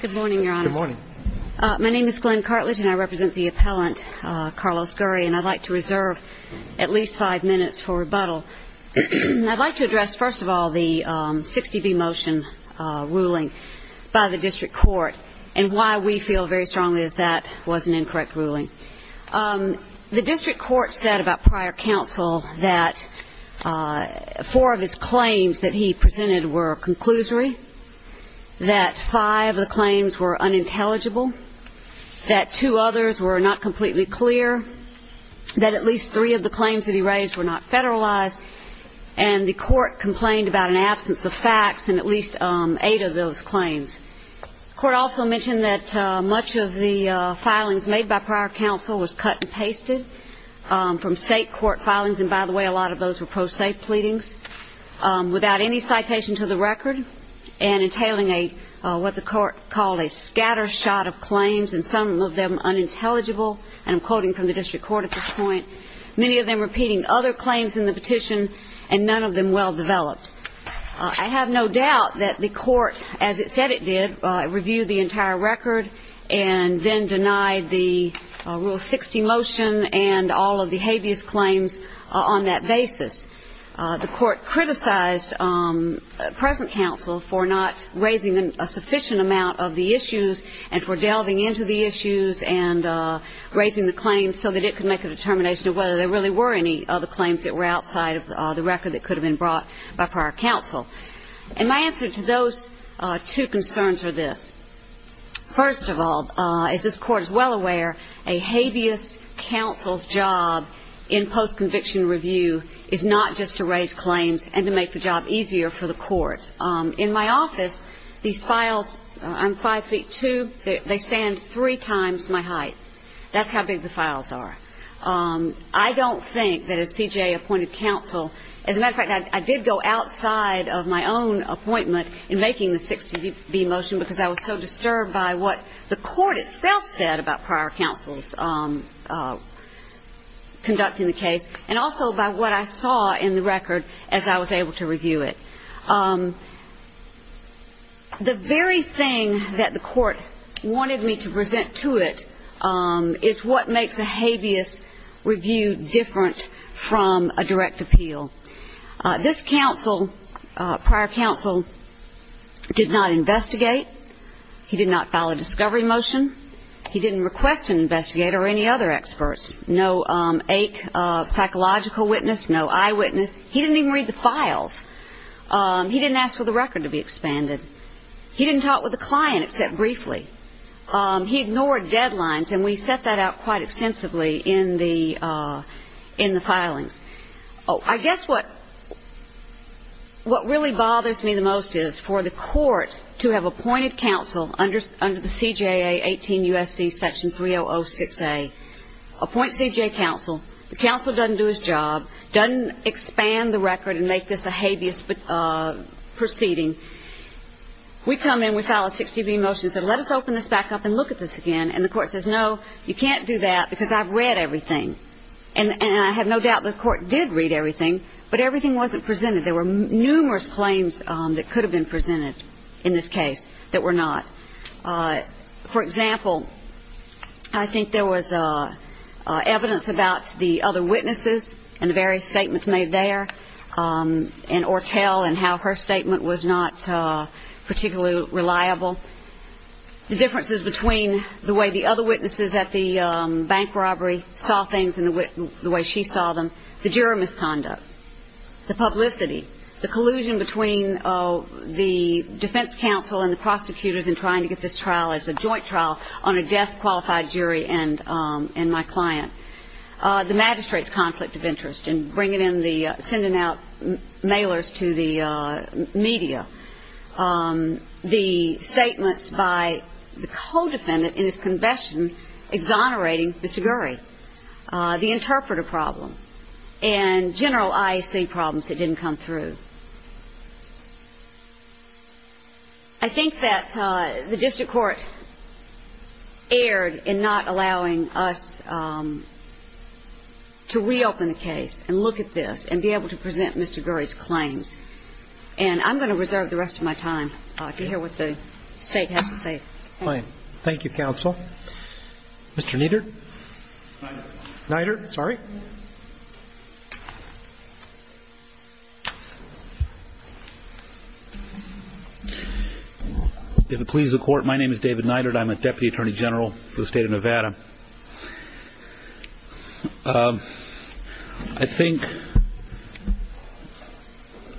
Good morning, Your Honor. Good morning. My name is Glenn Cartlidge, and I represent the appellant, Carlos Gurry, and I'd like to reserve at least five minutes for rebuttal. I'd like to address, first of all, the 60B motion ruling by the district court and why we feel very strongly that that was an incorrect ruling. The district court said about prior counsel that four of his claims that he presented were conclusory, that five of the claims were unintelligible, that two others were not completely clear, that at least three of the claims that he raised were not federalized, and the court complained about an absence of facts in at least eight of those claims. The court also mentioned that much of the filings made by prior counsel was cut and pasted from state court filings, and by the way, a lot of those were pro se pleadings. Without any citation to the record, and entailing what the court called a scatter shot of claims, and some of them unintelligible, and I'm quoting from the district court at this point, many of them repeating other claims in the petition, and none of them well developed. I have no doubt that the court, as it said it did, reviewed the entire record, and then denied the Rule 60 motion and all of the habeas claims on that basis. The court criticized present counsel for not raising a sufficient amount of the issues and for delving into the issues and raising the claims so that it could make a determination of whether there really were any other claims that were outside of the record that could have been brought by prior counsel. And my answer to those two concerns are this. First of all, as this court is well aware, a habeas counsel's job in post-conviction review is not just to raise claims and to make the job easier for the court. In my office, these files, I'm five feet two, they stand three times my height. That's how big the files are. I don't think that as CJA appointed counsel, as a matter of fact, I did go outside of my own appointment in making the 60B motion because I was so disturbed by what the court itself said about prior counsel's conducting the case and also by what I saw in the record as I was able to review it. The very thing that the court wanted me to present to it is what makes a habeas review different from a direct appeal. This counsel, prior counsel, did not investigate. He did not file a discovery motion. He didn't request an investigator or any other experts. No ache of psychological witness, no eyewitness. He didn't even read the files. He didn't ask for the record to be expanded. He didn't talk with the client except briefly. He ignored deadlines, and we set that out quite extensively in the filings. I guess what really bothers me the most is for the court to have appointed counsel under the CJA 18 U.S.C. section 3006A, appoint CJA counsel, the counsel doesn't do his job, doesn't expand the record and make this a habeas proceeding. We come in, we file a 60B motion and say, let us open this back up and look at this again, and the court says, no, you can't do that because I've read everything, and I have no doubt the court did read everything, but everything wasn't presented. There were numerous claims that could have been presented in this case that were not. For example, I think there was evidence about the other witnesses and the various statements made there, and Ortel and how her statement was not particularly reliable. The differences between the way the other witnesses at the bank robbery saw things and the way she saw them, the juror misconduct, the publicity, the collusion between the defense counsel and the prosecutors in trying to get this trial as a joint trial on a deaf, qualified jury and my client, the magistrate's conflict of interest in sending out mailers to the media, the statements by the co-defendant in his confession exonerating Mr. Gurry, the interpreter problem, and general IAC problems that didn't come through. I think that the district court erred in not allowing us to reopen the case and look at this and be able to present Mr. Gurry's claims, and I'm going to reserve the rest of my time to hear what the State has to say. Thank you, counsel. Mr. Kneedert. If it pleases the court, my name is David Kneedert. I'm a Deputy Attorney General for the State of Nevada. I think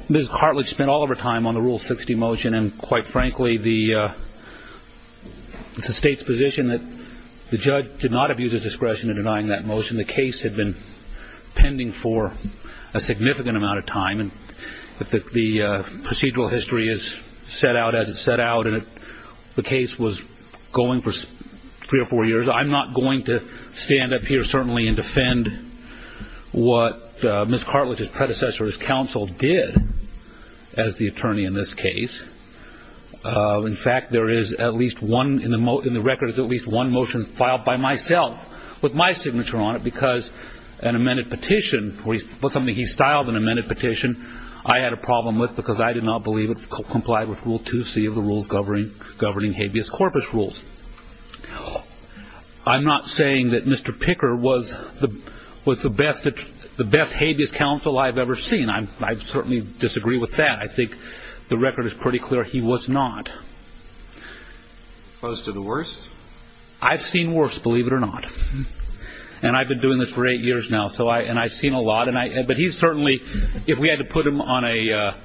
Ms. Cartlidge spent all of her time on the Rule 60 motion and, quite frankly, it's the State's position that the judge did not abuse his discretion in denying that motion. The case had been pending for a significant amount of time. The procedural history is set out as it's set out and the case was going for three or four years. I'm not going to stand up here, certainly, and defend what Ms. Cartlidge's claim is. In fact, there is at least one motion filed by myself with my signature on it because an amended petition, something he styled an amended petition, I had a problem with because I did not believe it complied with Rule 2C of the rules governing habeas corpus rules. I'm not saying that Mr. Picker was the best habeas counsel I've ever seen. I certainly disagree with that. I think the record is pretty clear he was not. Close to the worst? I've seen worse, believe it or not. I've been doing this for eight years now and I've seen a lot. He certainly, if we had to put him on a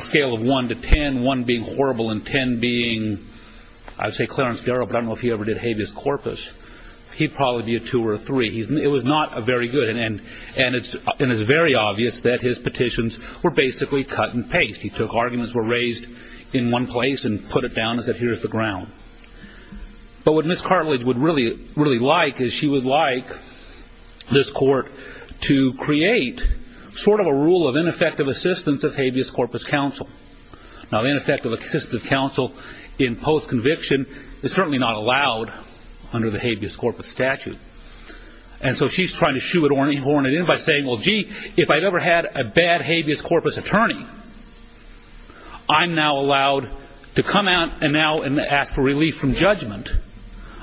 scale of one to ten, one being horrible and ten being, I'd say Clarence Darrow, but I don't know if he ever did habeas corpus, he'd probably be a two or a three. It was not very good and it's very obvious that his petitions were basically cut and paste. He took arguments that were raised in one place and put it down as, here's the ground. But what Ms. Cartlidge would really like is she would like this court to create sort of a rule of ineffective assistance of habeas corpus counsel. Now, ineffective assistance of counsel in post-conviction is certainly not allowed under the habeas corpus statute. And so she's trying to shoehorn it in by saying, well, gee, if I'd ever had a bad habeas corpus attorney, I'm now allowed to come out and now ask for relief from judgment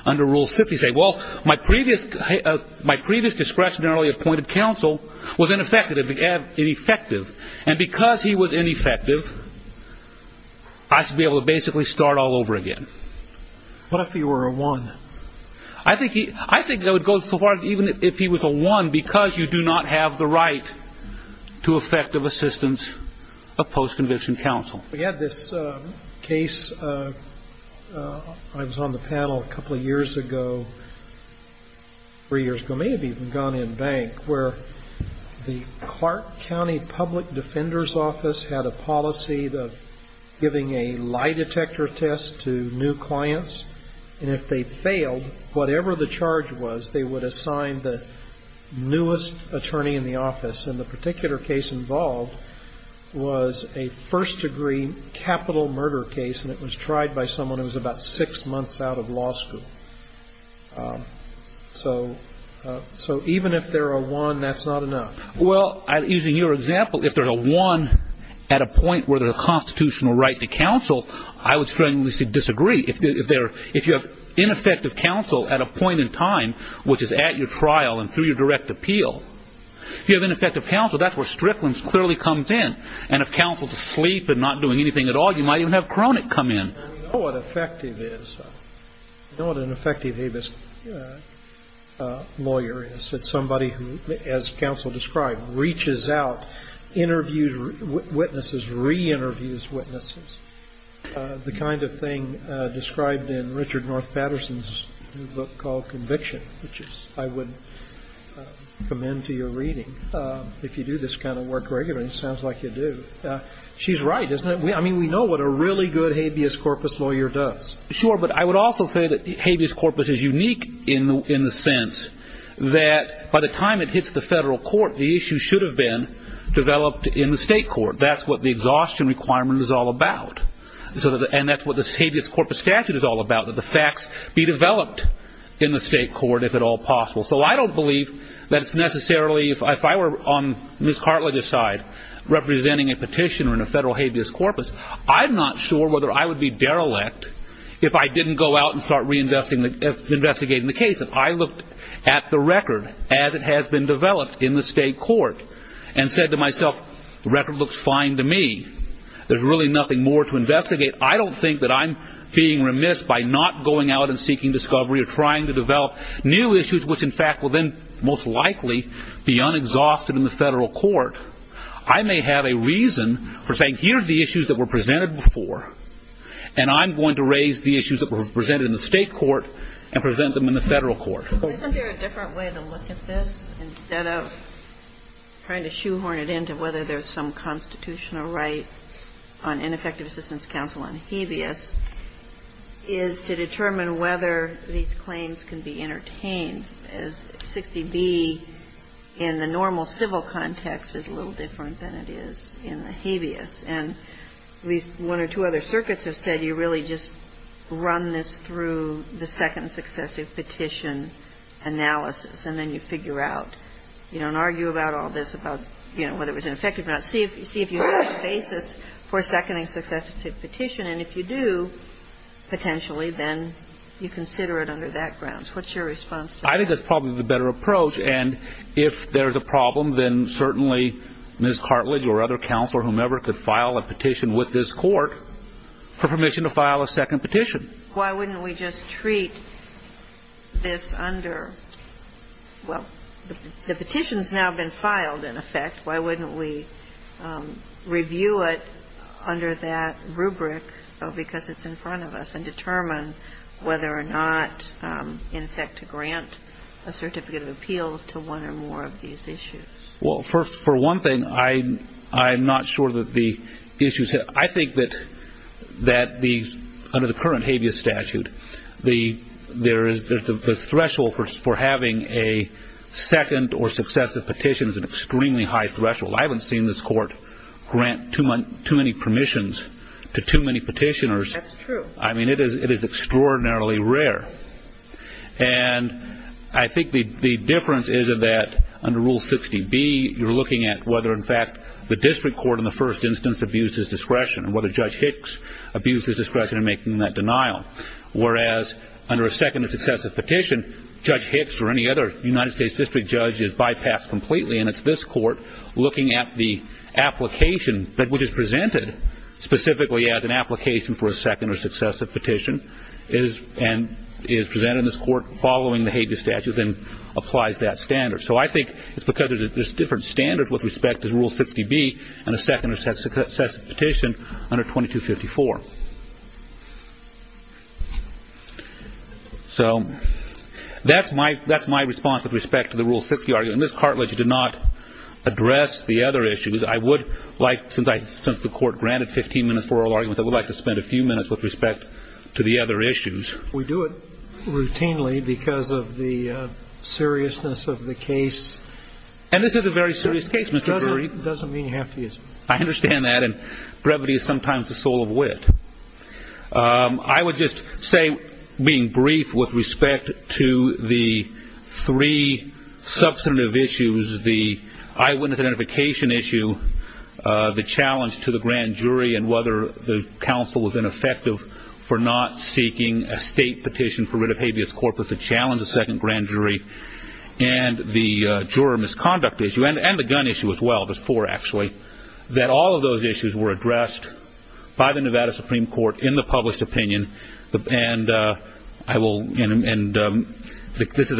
under Rule 50, saying, well, my previous discretionarily appointed counsel was ineffective. And because he was ineffective, I should be able to basically start all over again. What if he were a one? I think that would go so far as even if he was a one, because you do not have the right to effective assistance of post-conviction counsel. We had this case, I was on the panel a couple of years ago, three years ago, maybe even down in Bank, where the Clark County Public Defender's Office had a policy of giving a lie detector test to new clients. And if they failed, whatever the charge was, they would assign the newest attorney in the office. And the particular case involved was a first-degree capital murder case, and it was tried by someone who was about six months out of law school. So even if they're a one, that's not enough. Well, using your example, if they're a one at a point where there's a constitutional right to counsel, I would strongly disagree. If you have ineffective counsel at a point in time, which is at your trial and through your direct appeal, if you have ineffective counsel, that's where Strickland clearly comes in. And if counsel's asleep and not doing anything at all, you might even have Cronick come in. We know what effective is. We know what an effective habeas lawyer is. It's somebody who, as counsel described, reaches out, interviews witnesses, re-interviews witnesses, the kind of thing described in Richard North Patterson's book called Conviction, which I would commend to your reading. If you do this kind of work regularly, it sounds like you do. She's right, isn't it? I mean, we know what a really good habeas corpus lawyer does. Sure, but I would also say that habeas corpus is unique in the sense that by the time it hits the federal court, the issue should have been developed in the state court. That's what the exhaustion requirement is all about. And that's what this habeas corpus statute is all about, that the facts be developed in the state court if at all possible. So I don't believe that it's necessarily, if I were on Ms. Cartlidge's side, representing a petitioner in a federal habeas corpus, I'm not sure whether I would be derelict if I didn't go out and start reinvestigating the case. If I looked at the record as it has been developed in the state court and said to myself, the record looks fine to me, there's really nothing more to investigate, I don't think that I'm being remiss by not going out and seeking discovery or trying to develop new issues, which in fact will then most likely be unexhausted in the federal court, I may have a reason for saying here are the issues that were presented before, and I'm going to raise the issues that were presented in the state court and present them in the federal court. Isn't there a different way to look at this instead of trying to shoehorn it in to whether there's some constitutional right on ineffective assistance counsel on habeas is to determine whether these claims can be entertained, as 60B in the normal civil context is a little different than it is in the habeas. And at least one or two other circuits have said you really just run this through the second successive petition analysis, and then you figure out, you don't argue about all this about, you know, whether it was ineffective or not, see if you have a basis for seconding successive petition, and if you do, potentially then you consider it under that grounds. What's your response to that? I think that's probably the better approach, and if there's a problem, then certainly Ms. Cartlidge or other counsel or whomever could file a petition with this court for permission to file a second petition. Why wouldn't we just treat this under, well, the petition's now been filed, in effect. Why wouldn't we review it under that rubric, because it's in front of us, and determine whether or not, in effect, to grant a certificate of appeals to one or more of these issues? For one thing, I'm not sure that the issues, I think that under the current habeas statute, there is the threshold for having a second or successive petition is an extremely high threshold. I haven't seen this court grant too many permissions to too many petitioners. That's true. It is extraordinarily rare. I think the difference is that under Rule 60B, you're looking at whether, in fact, the district court in the first instance abused his discretion, and whether Judge Hicks abused his discretion in making that denial, whereas under a second or successive petition, Judge Hicks or any other United States district judge is bypassed completely, and it's this court looking at the application, which is presented specifically as an application for a second or successive petition, and is presented in this court following the habeas statute, and applies that standard. I think it's because there's different standards with respect to Rule 60B and a second or successive petition under 2254. That's my response with respect to the Rule 60 argument. This cartilage did not address the other issues. I would like, since the court granted 15 minutes for oral arguments, I would like to spend a few minutes with respect to the other issues. We do it routinely because of the seriousness of the case. And this is a very serious case, Mr. Gurry. It doesn't mean you have to use it. I understand that, and brevity is sometimes the soul of wit. I would just say, being brief with respect to the three substantive issues, the eyewitness identification issue, the challenge to the grand jury, and whether the counsel was ineffective for not seeking a state petition for writ of habeas corpus to challenge the second grand jury, and the juror misconduct issue, and the gun issue as well, there's four actually, that all of those issues were addressed. This is a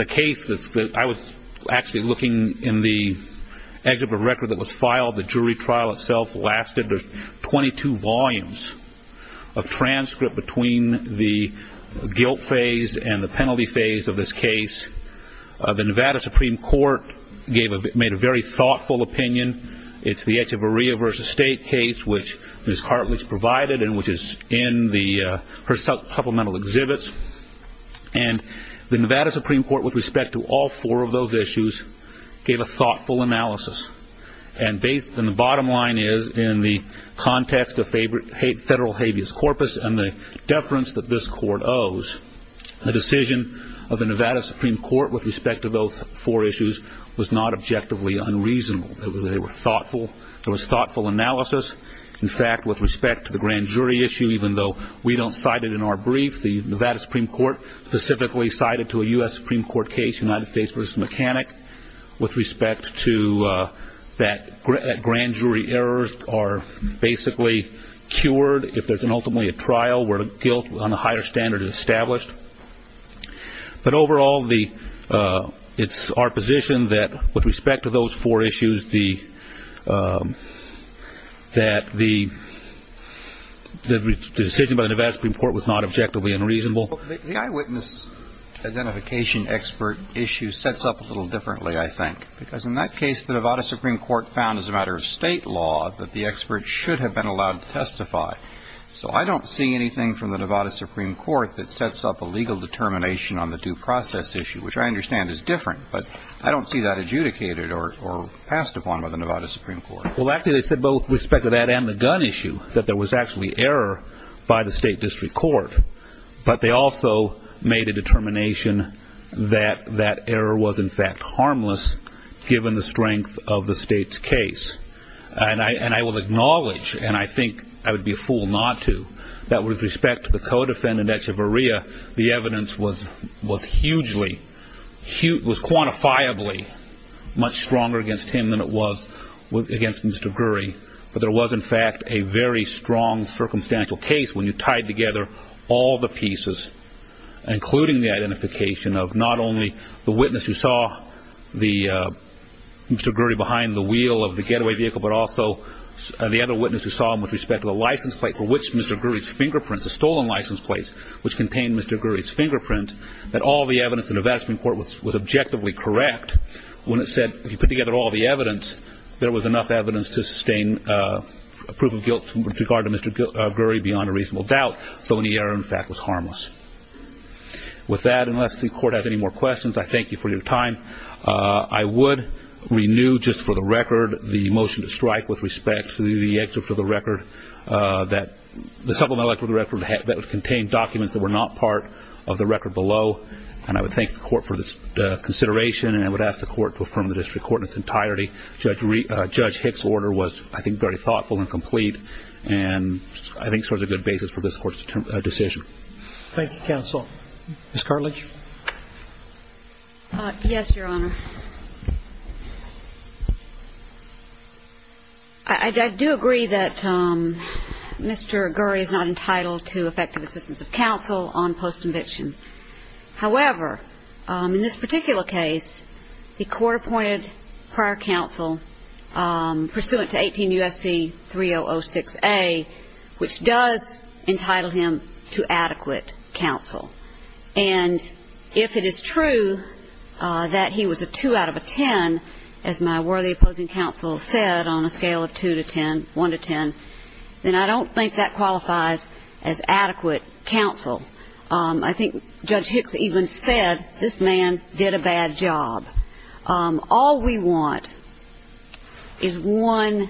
case that I was actually looking in the exhibit record that was filed. The jury trial itself lasted 22 volumes of transcript between the guilt phase and the penalty phase of this case. The Nevada Supreme Court made a very thoughtful opinion. It's the Echevarria v. State case, which Ms. Hartlich provided and which is in her supplemental exhibits. And the Nevada Supreme Court, with respect to all four of those issues, gave a thoughtful analysis. And the bottom line is, in the context of federal habeas corpus and the deference that this court owes, the decision of the Nevada Supreme Court with respect to those four issues was not objectively unreasonable. They were thoughtful. There was thoughtful analysis. In fact, with respect to the grand jury issue, even though we don't cite it in our brief, the Nevada Supreme Court specifically cited to a U.S. Supreme Court case, United States v. Mechanic, with respect to that grand jury errors are basically cured if there's ultimately a trial where guilt on a higher standard is established. But overall, it's our position that with respect to those four issues, that the decision by the Nevada Supreme Court was not objectively unreasonable. The eyewitness identification expert issue sets up a little differently, I think, because in that case, the Nevada Supreme Court found as a matter of state law that the expert should have been allowed to testify. So I don't see anything from the Nevada Supreme Court that sets up a legal determination on the due process issue, which I understand is different. But I don't see that adjudicated or passed upon by the Nevada Supreme Court. Well, actually, they said both with respect to that and the gun issue, that there was actually error by the state district court. But they also made a determination that that error was, in fact, harmless, given the strength of the state's case. And I will acknowledge, and I think I would be a fool not to, that with respect to the co-defendant, Echevarria, the evidence was hugely, was quantifiably much stronger against him than it was against Mr. Gurry. But there was, in fact, a very strong circumstantial case when you tied together all the pieces, including the identification of not only the witness who saw Mr. Gurry behind the wheel of the getaway vehicle, but also the other witness who saw him with respect to the license plate for which Mr. Gurry's fingerprints, the stolen license plate, which contained Mr. Gurry's fingerprints, that all the evidence in the Nevada Supreme Court was objectively correct when it said, if you put together all the evidence, there was enough evidence to sustain a proof of guilt with regard to Mr. Gurry beyond a reasonable doubt. So any error, in fact, was harmless. With that, unless the Court has any more questions, I thank you for your time. I would renew, just for the record, the motion to strike with respect to the excerpt of the record that the supplemental excerpt of the record that contained documents that were not part of the record below. And I would thank the Court for this consideration and I would ask the Court to affirm the district court in its entirety. Judge Hicks' order was, I think, very thoughtful and complete and I think serves a good basis for this Court's decision. Thank you, counsel. Ms. Cartlidge? Yes, Your Honor. I do agree that Mr. Gurry is not entitled to effective assistance of counsel on post-conviction. However, in this particular case, the Court appointed prior counsel pursuant to 18 U.S.C. 3006A, which does entitle him to adequate counsel. And if it is true that he was a 2 out of a 10, as my worthy opposing counsel said, on a scale of 2 to 10, 1 to 10, then I don't think that qualifies as adequate counsel. I think Judge Hicks even said, this man did a bad job. All we want is one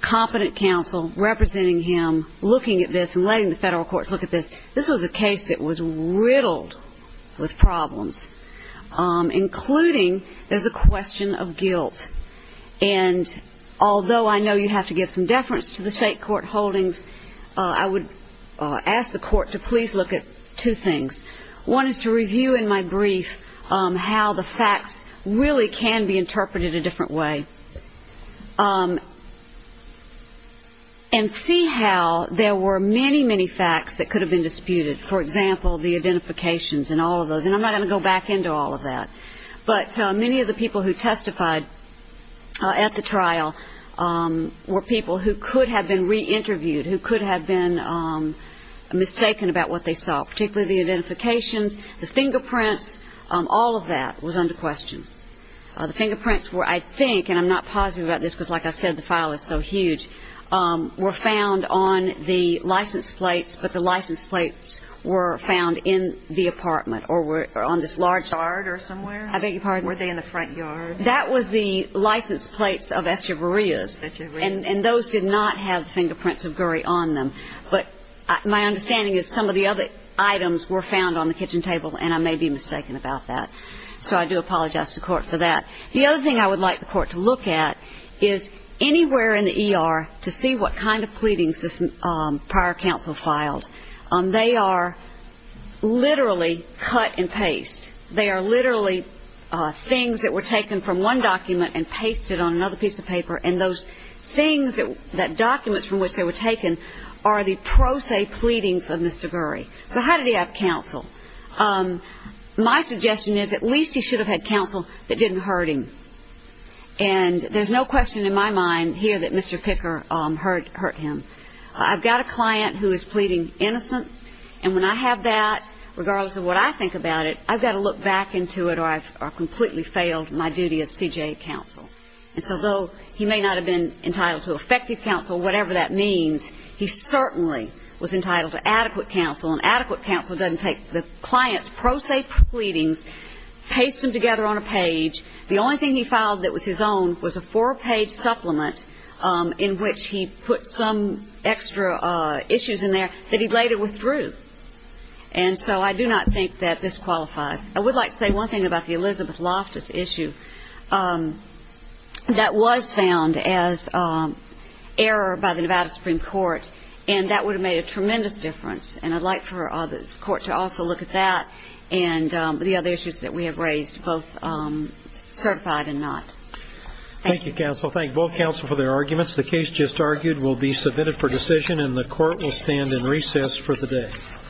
competent counsel representing him looking at this and letting the federal courts look at this. This was a case that was riddled with problems, including there's a question of guilt. And although I know you have to give some deference to the state court holdings, I would ask the Court to please look at two things. One is to review in my brief how the facts really can be interpreted a different way and see how there were many, many facts that could have been disputed. For example, the identifications and all of those. And I'm not going to go back into all of that. But many of the people who testified at the trial were people who could have been reinterviewed, who could have been mistaken about what they saw, particularly the identifications, the fingerprints, all of that was under question. The fingerprints were, I think, and I'm not positive about this because like I said, the file is so huge, were found on the license plates, but the license plates were found in the apartment or on this large... Were they in the front yard? That was the license plates of Echeverria's. And those did not have the fingerprints of Mr. Gurry. So I do apologize to the Court for that. The other thing I would like the Court to look at is anywhere in the ER to see what kind of pleadings this prior counsel filed. They are literally cut and paste. They are literally things that were taken from one document and pasted on another piece of paper, and those things that documents from which they were taken are the pro se pleadings of Mr. Gurry. So how did he have counsel? My suggestion is at least he should have had counsel that didn't hurt him. And there's no question in my mind here that Mr. Picker hurt him. I've got a client who is pleading innocent, and when I have that, regardless of what I think about it, I've got to look back into it or I've completely failed my duty as CJA counsel. And so though he may not have been entitled to effective counsel, whatever that means, he certainly was entitled to adequate counsel. And adequate counsel doesn't take the client's pro se pleadings, paste them together on a page. The only thing he filed that was his own was a four-page supplement in which he put some extra issues in there that he later withdrew. And so I do not think that this qualifies. I would like to say one thing about the Elizabeth Loftus issue. That was found as error by the Nevada Supreme Court, and that would have made a tremendous difference. And I'd like for the court to also look at that and the other issues that we have raised, both certified and not. Thank you, counsel. Thank both counsel for their arguments. The case just argued will be submitted for decision, and the court will stand in recess for the day. Thank you, counsel.